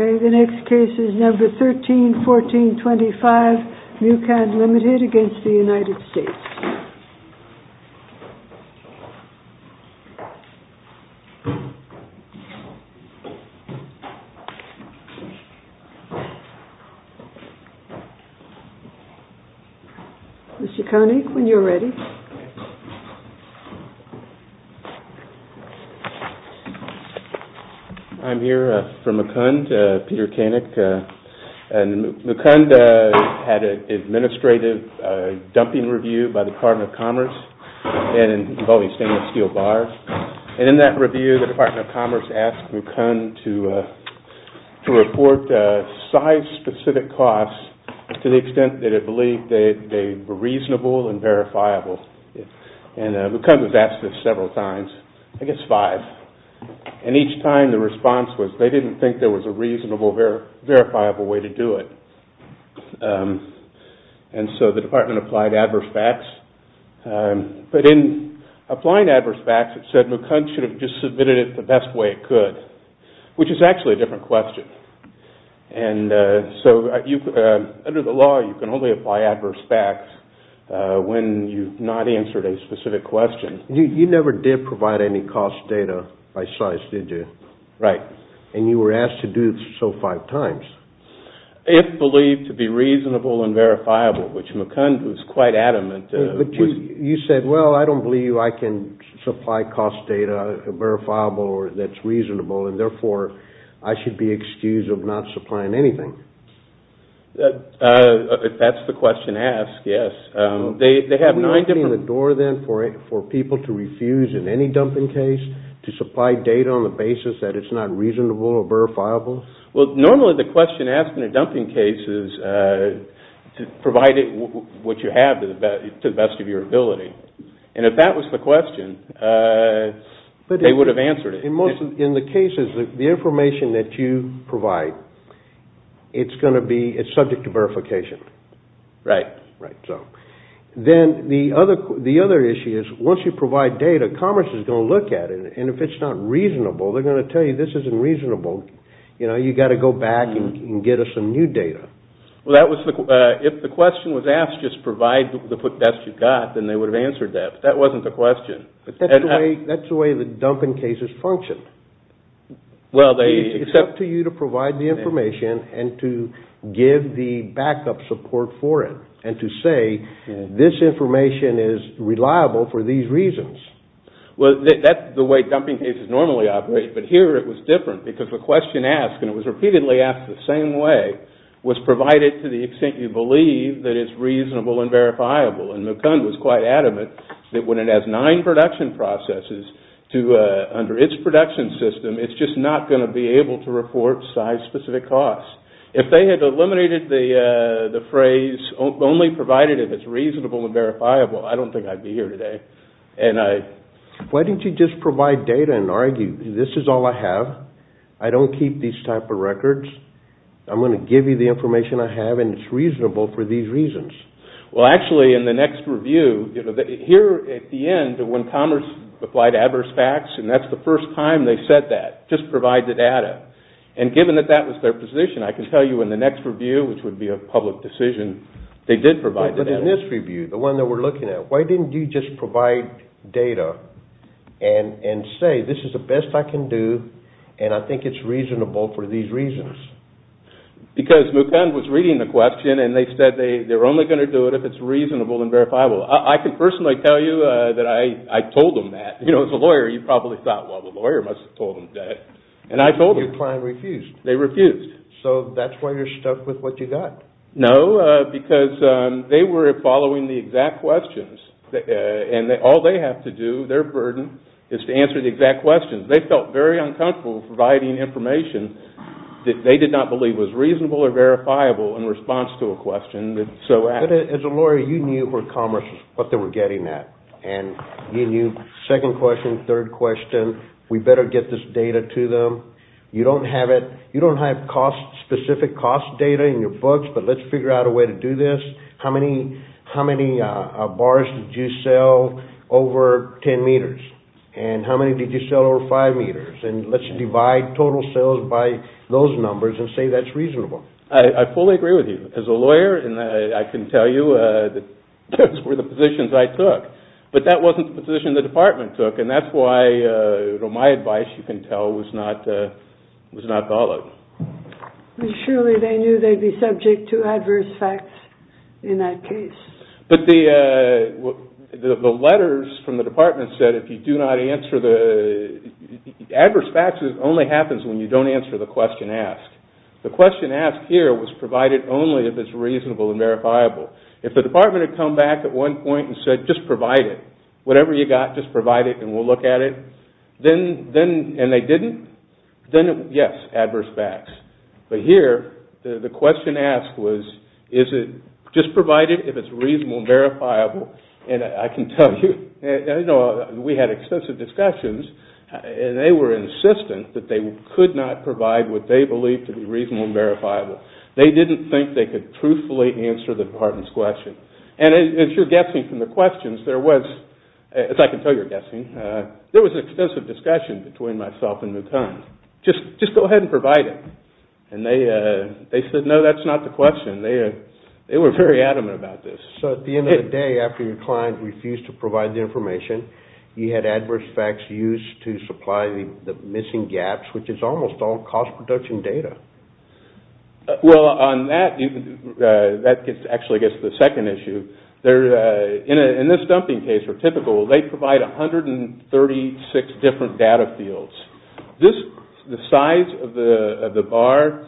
The next case is Number 131425, Mucand, Ltd. v. United States. I'm here for Mucand, Peter Koenig, and Mucand had an administrative dumping review by the Department of Commerce, and involving stainless steel bars, and in that review the Department of Commerce asked Mucand to report size-specific costs to the extent that it believed they were reasonable and verifiable. And Mucand was asked this several times, I guess five, and each time the response was they didn't think there was a reasonable, verifiable way to do it. And so the department applied adverse facts, but in applying adverse facts it said Mucand should have just submitted it the best way it could, which is actually a different question. And so under the law you can only apply adverse facts when you've not answered a specific question. You never did provide any cost data by size, did you? Right. And you were asked to do so five times? If believed to be reasonable and verifiable, which Mucand, who's quite adamant, was... But you said, well, I don't believe I can supply cost data, verifiable or that's reasonable, and therefore I should be excused of not supplying anything. If that's the question asked, yes. They have nine different... Are you opening the door then for people to refuse in any dumping case to supply data on the basis that it's not reasonable or verifiable? Well, normally the question asked in a dumping case is to provide it, what you have, to the best of your ability. And if that was the question, they would have answered it. In the cases, the information that you provide, it's going to be, it's subject to verification. Right. Right, so. Then the other issue is once you provide data, Commerce is going to look at it, and if it's not reasonable, they're going to tell you this isn't reasonable. You know, you've got to go back and get us some new data. Well, that was the... If the question was asked, just provide the best you've got, then they would have answered that. But that wasn't the question. But that's the way the dumping cases function. Well, they... It's up to you to provide the information and to give the backup support for it and to say, this information is reliable for these reasons. Well, that's the way dumping cases normally operate. But here, it was different because the question asked, and it was repeatedly asked the same way, was provided to the extent you believe that it's reasonable and verifiable. And McComb was quite adamant that when it has nine production processes to, under its production system, it's just not going to be able to report size-specific costs. If they had eliminated the phrase, only provided if it's reasonable and verifiable, I don't think I'd be here today. And I... Why didn't you just provide data and argue, this is all I have, I don't keep these type of records, I'm going to give you the information I have and it's reasonable for these reasons? Well, actually, in the next review, you know, here at the end, when Commerce applied adverse facts, and that's the first time they said that, just provide the data. And given that that was their position, I can tell you in the next review, which would be a public decision, they did provide the data. But in this review, the one that we're looking at, why didn't you just provide data and say, this is the best I can do and I think it's reasonable for these reasons? Because McComb was reading the question and they said they were only going to do it if it's reasonable and verifiable. I can personally tell you that I told them that. You know, as a lawyer, you probably thought, well, the lawyer must have told them that. And I told them. Your client refused. They refused. So that's why you're stuck with what you got. No, because they were following the exact questions. And all they have to do, their burden, is to answer the exact questions. They felt very uncomfortable providing information that they did not believe was reasonable or verifiable in response to a question that so asked. But as a lawyer, you knew where Commerce was, what they were getting at. And you knew, second question, third question, we better get this data to them. You don't have specific cost data in your books, but let's figure out a way to do this. How many bars did you sell over 10 meters? And how many did you sell over 5 meters? And let's divide total sales by those numbers and say that's reasonable. I fully agree with you. As a lawyer, I can tell you those were the positions I took. But that wasn't the position the department took. And that's why my advice, you can tell, was not followed. Surely they knew they'd be subject to adverse facts in that case. But the letters from the department said if you do not answer the... Adverse facts only happens when you don't answer the question asked. The question asked here was provided only if it's reasonable and verifiable. If the department had come back at one point and said just provide it, whatever you got, just provide it and we'll look at it, and they didn't, then yes, adverse facts. But here, the question asked was just provide it if it's reasonable and verifiable. And I can tell you, we had extensive discussions and they were insistent that they could not provide what they believed to be reasonable and verifiable. They didn't think they could truthfully answer the department's question. And as you're guessing from the questions, there was, as I can tell you're guessing, there was an extensive discussion between myself and McConn. Just go ahead and provide it. And they said no, that's not the question. They were very adamant about this. So at the end of the day, after your client refused to provide the information, you had adverse facts used to supply the missing gaps, which is almost all cost production data. Well, on that, that actually gets to the second issue. In this dumping case for typical, they provide 136 different data fields. The size of the bar,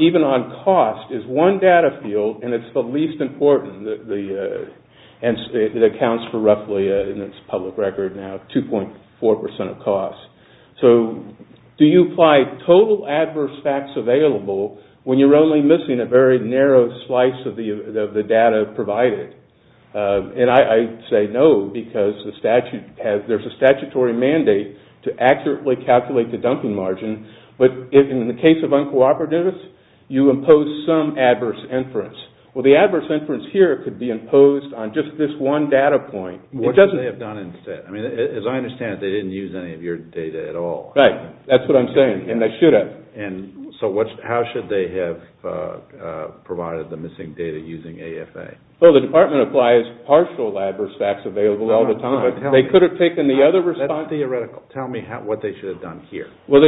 even on cost, is one data field and it's the least important. And it accounts for roughly, in its public record now, 2.4% of cost. So do you apply total adverse facts available when you're only missing a very narrow slice of the data provided? And I say no, because there's a statutory mandate to accurately calculate the dumping margin. But in the case of uncooperative, you impose some adverse inference. Well, the adverse inference here could be imposed on just this one data point. What should they have done instead? As I understand it, they didn't use any of your data at all. Right, that's what I'm saying, and they should have. So how should they have provided the missing data using AFA? Well, the department applies partial adverse facts available all the time. That's theoretical. Tell me what they should have done here. Well,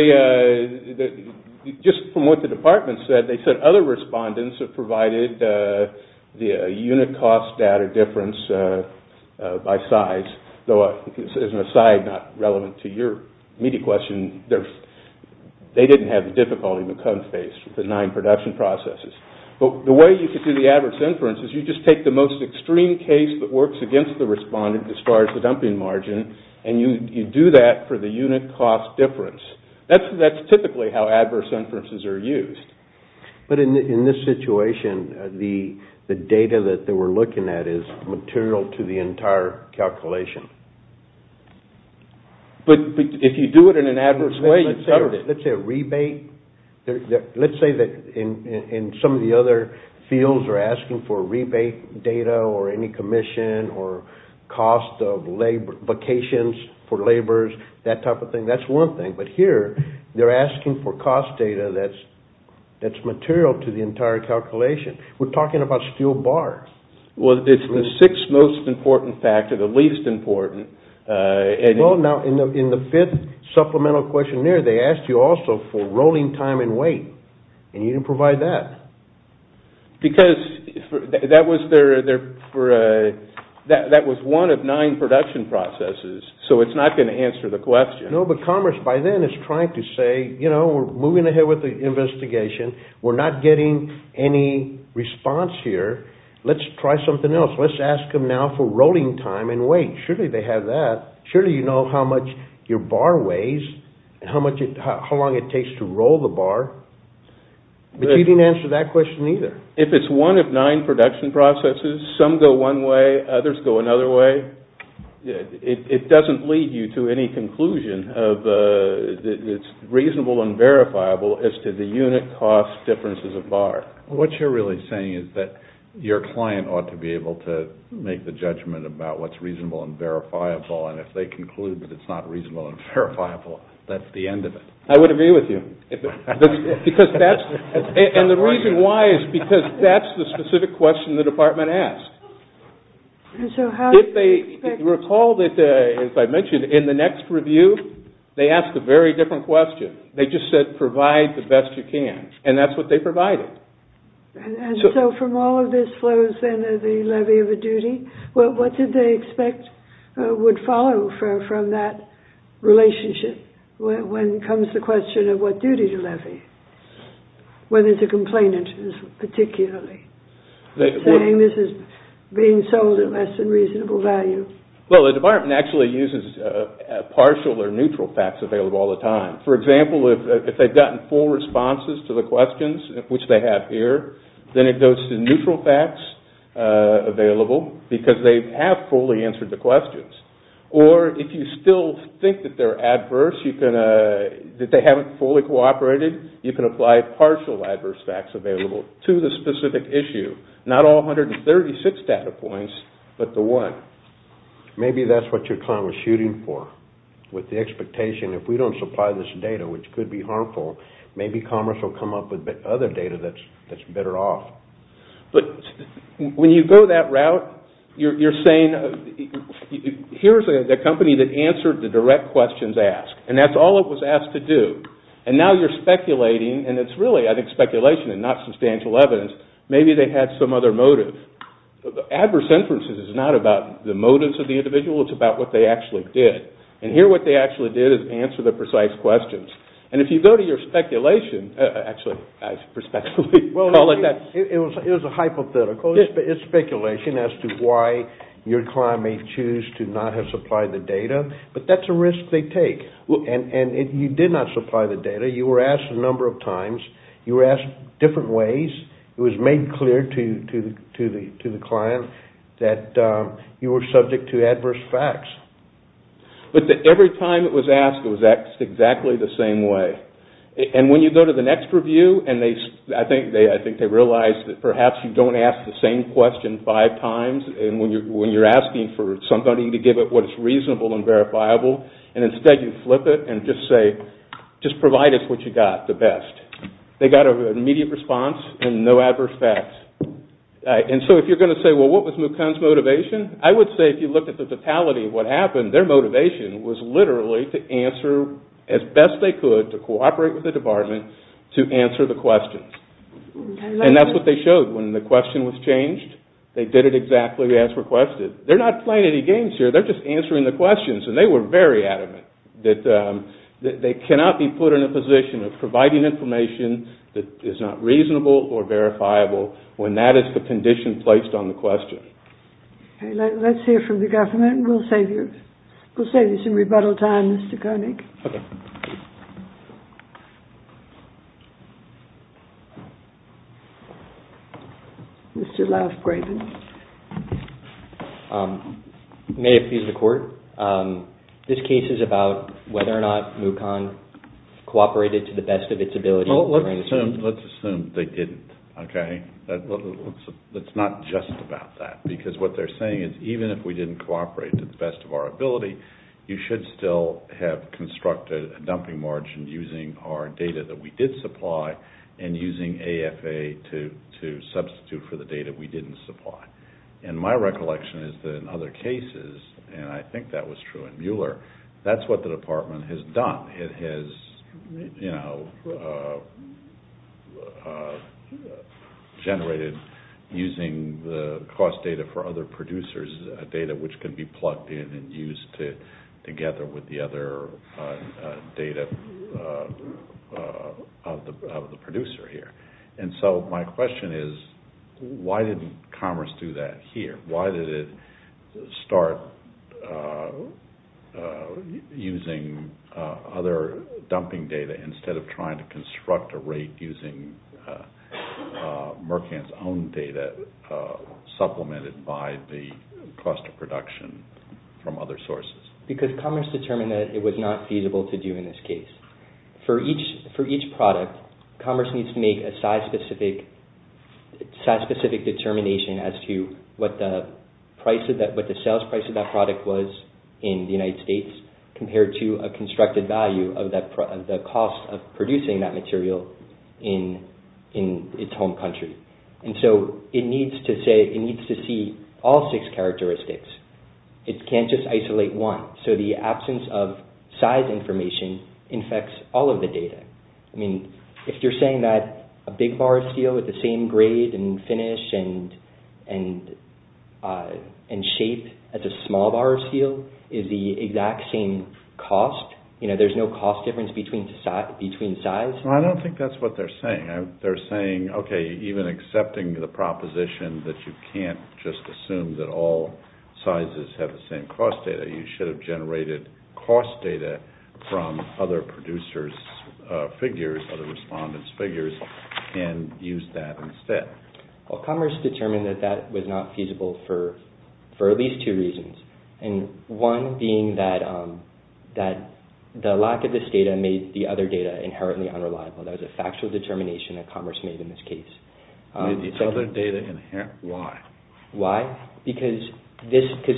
just from what the department said, they said other respondents have provided the unit cost data difference by size. Though, as an aside, not relevant to your immediate question, they didn't have the difficulty McCombs faced with the nine production processes. But the way you could do the adverse inference is you just take the most extreme case that works against the respondent as far as the dumping margin, and you do that for the unit cost difference. That's typically how adverse inferences are used. But in this situation, the data that they were looking at is material to the entire calculation. But if you do it in an adverse way, you've covered it. Let's say a rebate. Let's say that in some of the other fields they're asking for rebate data, or any commission, or cost of vacations for laborers, that type of thing. That's one thing. But here, they're asking for cost data that's material to the entire calculation. We're talking about steel bars. Well, it's the sixth most important factor, the least important. Well, now, in the fifth supplemental questionnaire, they asked you also for rolling time and weight, and you didn't provide that. Because that was one of nine production processes, so it's not going to answer the question. No, but Commerce, by then, is trying to say, you know, we're moving ahead with the investigation. We're not getting any response here. Let's try something else. Let's ask them now for rolling time and weight. Surely they have that. Surely you know how much your bar weighs, and how long it takes to roll the bar. But you didn't answer that question either. If it's one of nine production processes, some go one way, others go another way, it doesn't lead you to any conclusion of it's reasonable and verifiable as to the unit cost differences of bar. What you're really saying is that your client ought to be able to make the judgment about what's reasonable and verifiable, and if they conclude that it's not reasonable and verifiable, that's the end of it. I would agree with you. And the reason why is because that's the specific question the department asked. And so how do you expect... If they recall that, as I mentioned, in the next review, they asked a very different question. They just said, provide the best you can. And that's what they provided. And so from all of this flows into the levy of a duty, what did they expect would follow from that relationship when it comes to the question of what duty to levy? Whether it's a complaint interest particularly. Saying this is being sold at less than reasonable value. Well, the department actually uses partial or neutral facts available all the time. For example, if they've gotten full responses to the questions, which they have here, then it goes to neutral facts available, because they have fully answered the questions. Or if you still think that they're adverse, that they haven't fully cooperated, you can apply partial adverse facts available to the specific issue. Not all 136 data points, but the one. Maybe that's what your client was shooting for. With the expectation, if we don't supply this data, which could be harmful, maybe Commerce will come up with other data that's better off. But when you go that route, you're saying, here's a company that answered the direct questions asked. And that's all it was asked to do. And now you're speculating. And it's really, I think, speculation and not substantial evidence. Maybe they had some other motive. Adverse inferences is not about the motives of the individual. It's about what they actually did. And here, what they actually did is answer the precise questions. And if you go to your speculation... Actually, I should respectfully call it that. It was a hypothetical. It's speculation as to why your client may choose to not have supplied the data. But that's a risk they take. And you did not supply the data. You were asked a number of times. You were asked different ways. It was made clear to the client that you were subject to adverse facts. But every time it was asked, it was asked exactly the same way. And when you go to the next review, and I think they realized that perhaps you don't ask the same question five times when you're asking for somebody to give it what is reasonable and verifiable. And instead you flip it and just say, just provide us what you got, the best. They got an immediate response and no adverse facts. And so if you're going to say, well, what was Mukun's motivation? I would say if you look at the totality of what happened, their motivation was literally to answer as best they could to cooperate with the department to answer the questions. And that's what they showed when the question was changed. They did it exactly as requested. They're not playing any games here. They're just answering the questions. And they were very adamant that they cannot be put in a position of providing information that is not reasonable or verifiable when that is the condition placed on the question. Okay, let's hear from the government. We'll save you some rebuttal time, Mr. Koenig. Okay. Mr. Lafgraven. May I appease the court? This case is about whether or not Mukun cooperated to the best of its ability. Let's assume they didn't. Okay? It's not just about that. Because what they're saying is even if we didn't cooperate to the best of our ability, you should still have constructed a dumping margin using our data that we did supply and using AFA to substitute for the data we didn't supply. And my recollection is that in other cases, and I think that was true in Mueller, that's what the department has done. It has, you know, generated using the cost data for other producers, data which can be plugged in and used together with the other data of the producer here. And so my question is, why didn't Commerce do that here? Why did it start using other dumping data instead of trying to construct a rate using Merckant's own data supplemented by the cost of production from other sources? Because Commerce determined that it was not feasible to do in this case. For each product, Commerce needs to make a size-specific determination as to what the sales price of that product was in the United States compared to a constructed value of the cost of producing that material in its home country. And so it needs to see all six characteristics. It can't just isolate one. So the absence of size information infects all of the data. I mean, if you're saying that a big bar of steel with the same grade and finish and shape as a small bar of steel is the exact same cost, you know, there's no cost difference between size? I don't think that's what they're saying. They're saying, okay, even accepting the proposition that you can't just assume that all sizes have the same cost data, you should have generated cost data from other producers' figures, other respondents' figures, and used that instead. Well, Commerce determined that that was not feasible for at least two reasons, and one being that the lack of this data made the other data inherently unreliable. That was a factual determination that Commerce made in this case. Made the other data inherent? Why? Why? Because it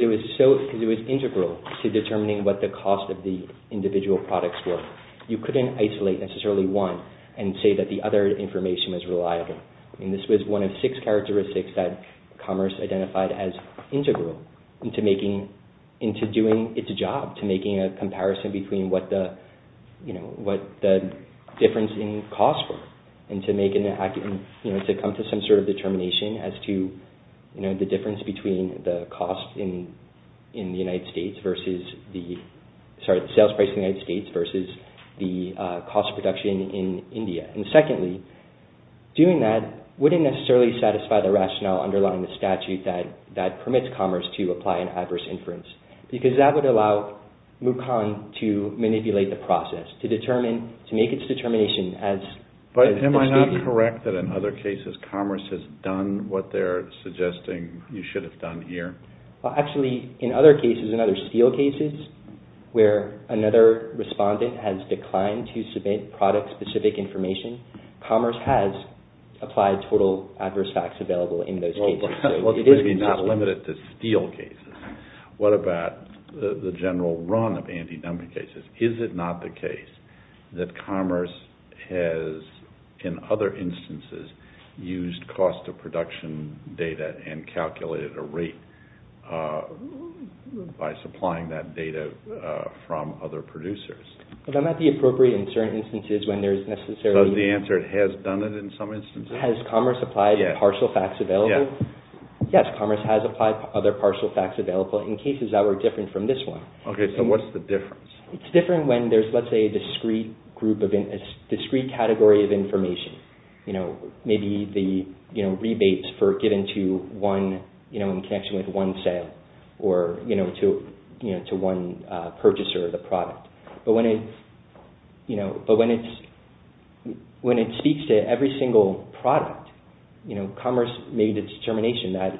was integral to determining what the cost of the individual products were. You couldn't isolate necessarily one and say that the other information was reliable. I mean, this was one of six characteristics that Commerce identified as integral into doing its job, to making a comparison between what the difference in cost were, and to come to some sort of determination as to the difference between the cost in the United States versus the, sorry, the sales price in the United States versus the cost of production in India. And secondly, doing that wouldn't necessarily satisfy the rationale underlying the statute that permits Commerce to apply an adverse inference, because that would allow Mukon to manipulate the process, to make its determination as... But am I not correct that in other cases, Commerce has done what they're suggesting you should have done here? Actually, in other cases, in other steel cases, where another respondent has declined to submit product-specific information, Commerce has applied total adverse facts available in those cases. Well, it could be not limited to steel cases. What about the general run of anti-dumping cases? Is it not the case that Commerce has, in other instances, used cost of production data and calculated a rate by supplying that data from other producers? That might be appropriate in certain instances when there's necessarily... Does the answer, it has done it in some instances? Has Commerce applied partial facts available? Yes, Commerce has applied other partial facts available in cases that were different from this one. Okay, so what's the difference? It's different when there's, let's say, a discrete category of information. Maybe the rebates for giving to one, in connection with one sale, or to one purchaser of the product. But when it speaks to every single product, Commerce made a determination that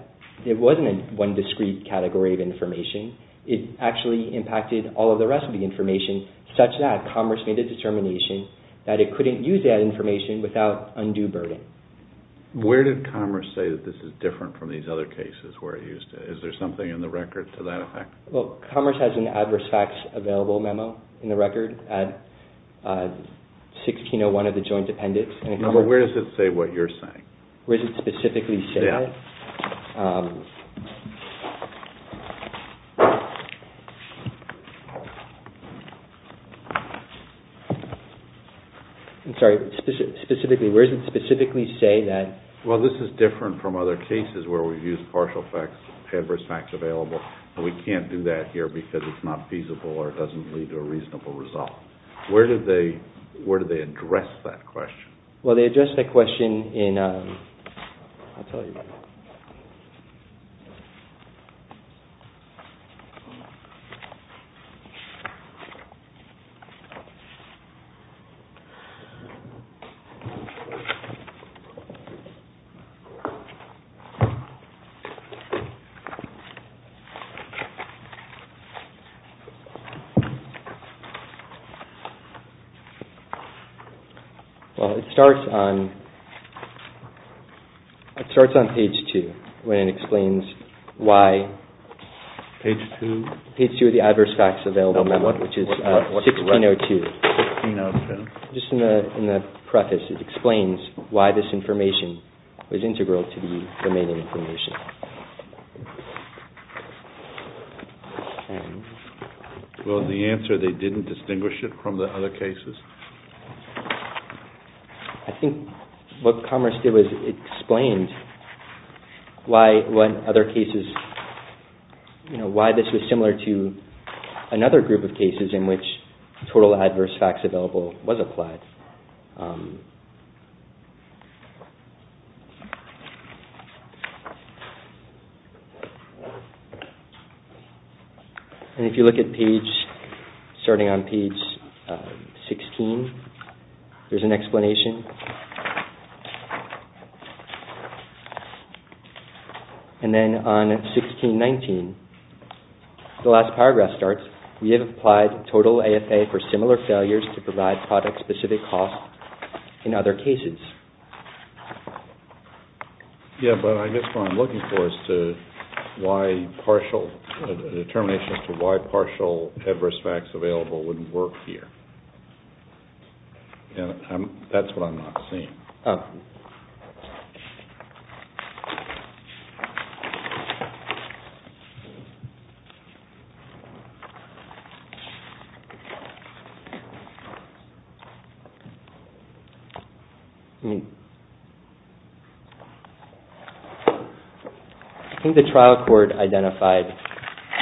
it wasn't one discrete category of information. It actually impacted all of the rest of the information such that Commerce made a determination that it couldn't use that information without undue burden. Where did Commerce say that this is different from these other cases where it used it? Is there something in the record to that effect? Well, Commerce has an adverse facts available memo in the record at 1601 of the joint appendix. Where does it say what you're saying? Where does it specifically say it? Yeah. I'm sorry. Where does it specifically say that? Well, this is different from other cases where we've used partial facts, adverse facts available, but we can't do that here because it's not feasible or it doesn't lead to a reasonable result. Where do they address that question? Well, they address that question in, I'll tell you. Well, it starts on page 2. It says, when it explains why... Page 2? Page 2 of the adverse facts available memo, which is 1602. 1602. Just in the preface, it explains why this information was integral to the remaining information. Well, the answer, they didn't distinguish it from the other cases? I think what Commerce did was it explained why other cases, why this was similar to another group of cases in which total adverse facts available was applied. And if you look at page, starting on page 16, there's an explanation. And then on 1619, the last paragraph starts, we have applied total AFA for similar failures to provide product-specific costs in other cases. Yeah, but I guess what I'm looking for is the determination as to why partial adverse facts available wouldn't work here. That's what I'm not seeing. Oh. I think the trial court identified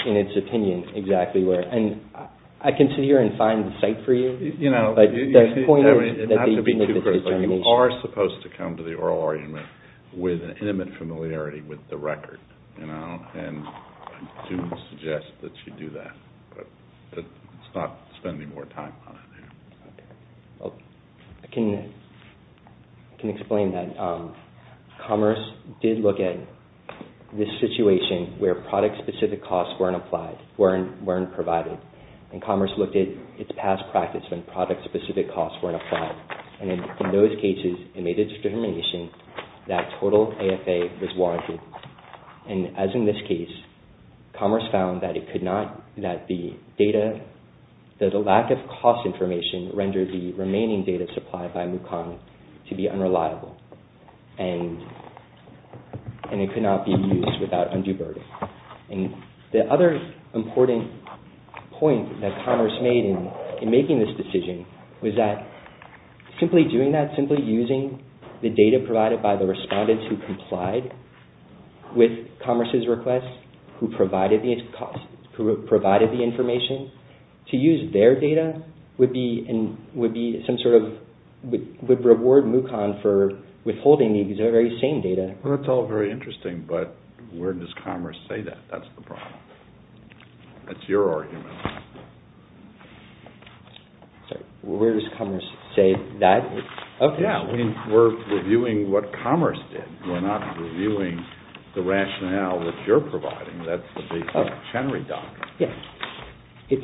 in its opinion exactly where, and I can sit here and find the site for you, but the point is that the determination... You are supposed to come to the oral argument with an intimate familiarity with the record, and I do suggest that you do that, but let's not spend any more time on it here. I can explain that. Commerce did look at this situation where product-specific costs weren't applied, weren't provided, and Commerce looked at its past practice when product-specific costs weren't applied, and in those cases it made a determination that total AFA was warranted, and as in this case, Commerce found that the lack of cost information rendered the remaining data supplied by Mukon to be unreliable, and it could not be used without undue burden. The other important point that Commerce made in making this decision was that simply doing that, simply using the data provided by the respondents who complied with Commerce's request, who provided the information, to use their data would reward Mukon for withholding the very same data. That's all very interesting, but where does Commerce say that? That's the problem. That's your argument. Where does Commerce say that? We're reviewing what Commerce did. We're not reviewing the rationale that you're providing. That's the Chenery document. If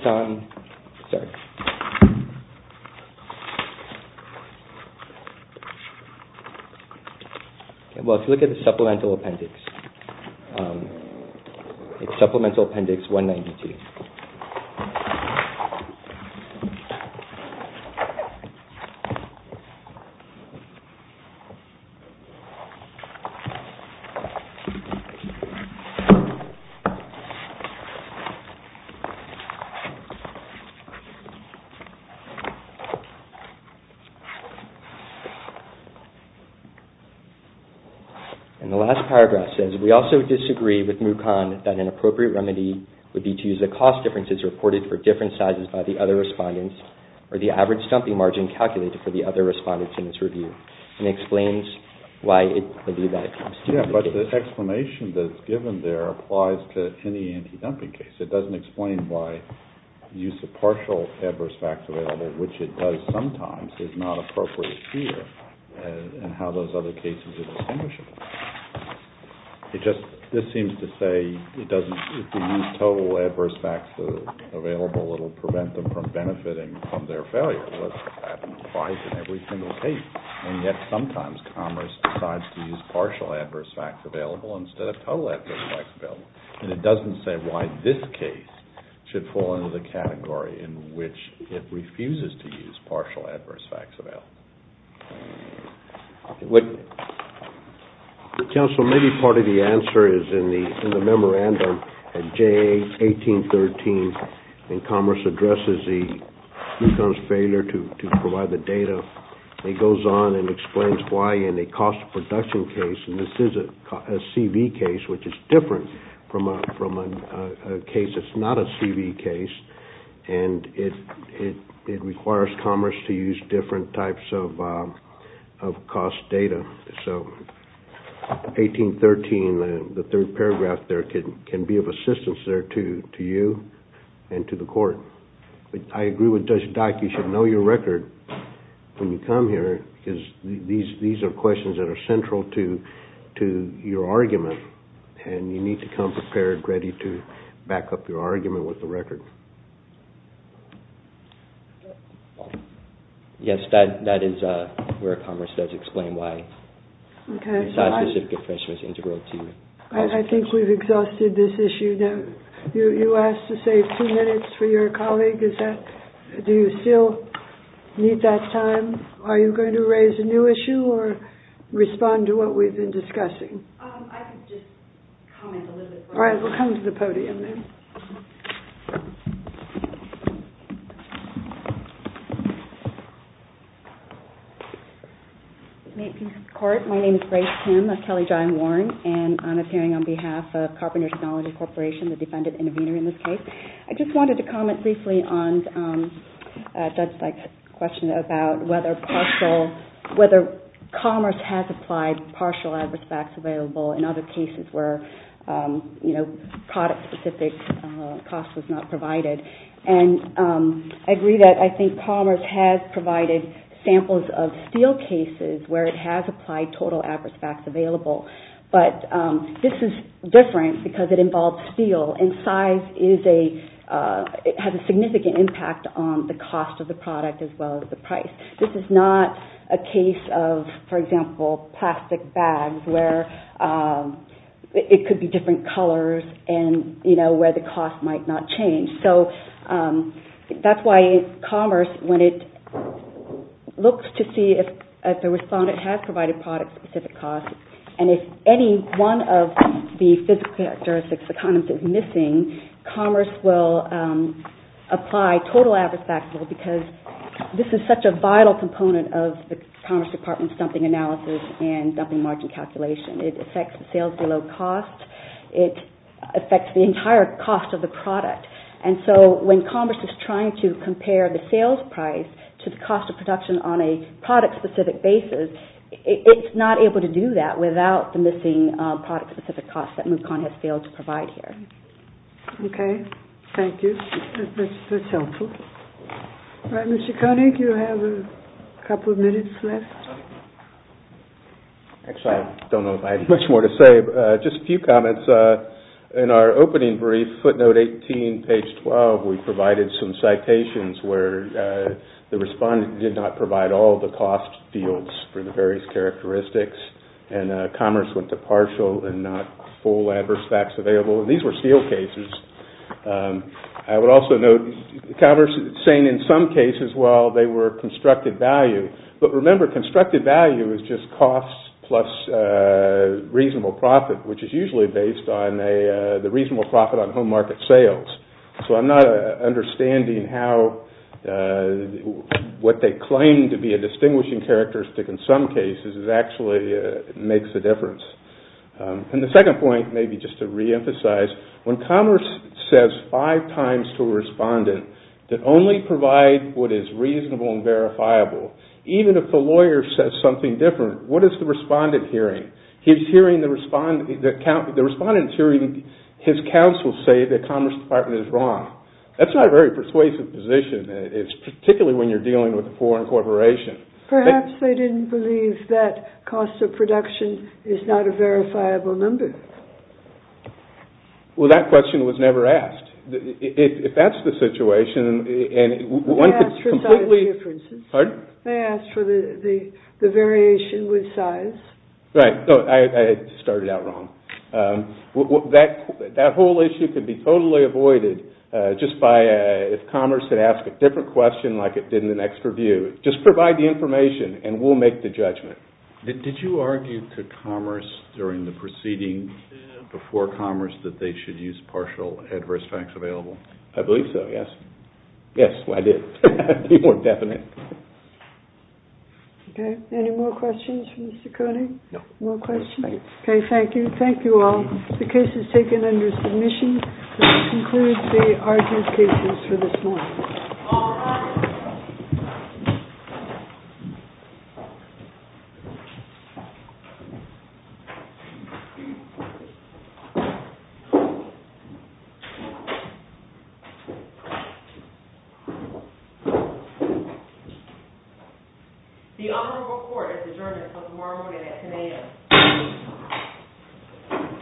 you look at the supplemental appendix, it's supplemental appendix 192. And the last paragraph says, we also disagree with Mukon that an appropriate remedy would be to use the cost differences reported for different sizes by the other respondents or the average dumping margin calculated for the other respondents in this review. The explanation that's given there applies to any anti-dumping case. It doesn't explain why use of partial adverse facts available, which it does sometimes, is not appropriate here and how those other cases are distinguishable. This seems to say if you use total adverse facts available, it will prevent them from benefiting from their failure. Yet sometimes Commerce decides to use partial adverse facts available instead of total adverse facts available. It doesn't say why this case should fall into the category in which it refuses to use partial adverse facts available. Council, maybe part of the answer is in the memorandum that J1813 in Commerce addresses Mukon's failure to provide the data. It goes on and explains why in a cost of production case, and this is a CV case, which is different from a case that's not a CV case, and it requires Commerce to use different types of cost data. So J1813, the third paragraph there, can be of assistance to you and to the Court. I agree with Judge Dyck, you should know your record when you come here because these are questions that are central to your argument, and you need to come prepared and ready to back up your argument with the record. Yes, that is where Commerce does explain why it's not a specific infringement. I think we've exhausted this issue. You asked to save two minutes for your colleague. Do you still need that time? Are you going to raise a new issue or respond to what we've been discussing? I can just comment a little bit. All right, we'll come to the podium then. My name is Grace Kim, and I'm appearing on behalf of Carpenter Technology Corporation, the defendant intervener in this case. I just wanted to comment briefly on Judge Dyck's question about whether Commerce has applied partial adverse facts available in other cases where product-specific cost was not provided. I agree that Commerce has provided samples of steel cases where it has applied total adverse facts available, but this is different because it involves steel and size has a significant impact on the cost of the product as well as the price. This is not a case of, for example, plastic bags where it could be different colors and where the cost might not change. That's why Commerce, when it looks to see if a respondent has provided product-specific costs and if any one of the physical characteristics of the condoms is missing, Commerce will apply total adverse facts because this is such a vital component of the Commerce Department's dumping analysis and dumping margin calculation. It affects the sales below cost. It affects the entire cost of the product. When Commerce is trying to compare the sales price to the cost of production on a product-specific basis, it's not able to do that without the missing product-specific costs that Mukon has failed to provide here. Thank you. That's helpful. Mr. Koenig, you have a couple of minutes left. I don't know if I have much more to say, but just a few comments. In our opening brief, footnote 18, page 12, we provided some citations where the respondent did not provide all the cost fields for the various characteristics and Commerce went to partial and not full adverse facts available. These were sealed cases. I would also note Commerce saying in some cases they were constructed value. Remember, constructed value is just costs plus reasonable profit, which is usually based on the reasonable profit on home market sales. I'm not understanding how what they claim to be a distinguishing characteristic in some cases actually makes a difference. The second point, just to reemphasize, when Commerce says five times to a respondent that only provide what is reasonable and verifiable, even if the lawyer says something different, what is the respondent hearing? The respondent is hearing his counsel say that Commerce Department is wrong. That's not a very persuasive position, particularly when you're dealing with a foreign corporation. Perhaps they didn't believe that cost of production is not a verifiable number. Well, that question was never asked. If that's the situation... They asked for size differences. They asked for the variation with size. Right. I started out wrong. That whole issue could be totally avoided just by if Commerce had asked a different question like it did in the next review. Just provide the information and we'll make the judgment. Did you argue to Commerce during the proceeding before Commerce that they should use partial adverse facts available? I believe so, yes. Yes, I did. Any more questions for Mr. Koenig? No. Okay, thank you. Thank you all. The case is taken under submission. This concludes the argumentations for this morning. All rise. The Honorable Court has adjourned until tomorrow morning at 10 a.m.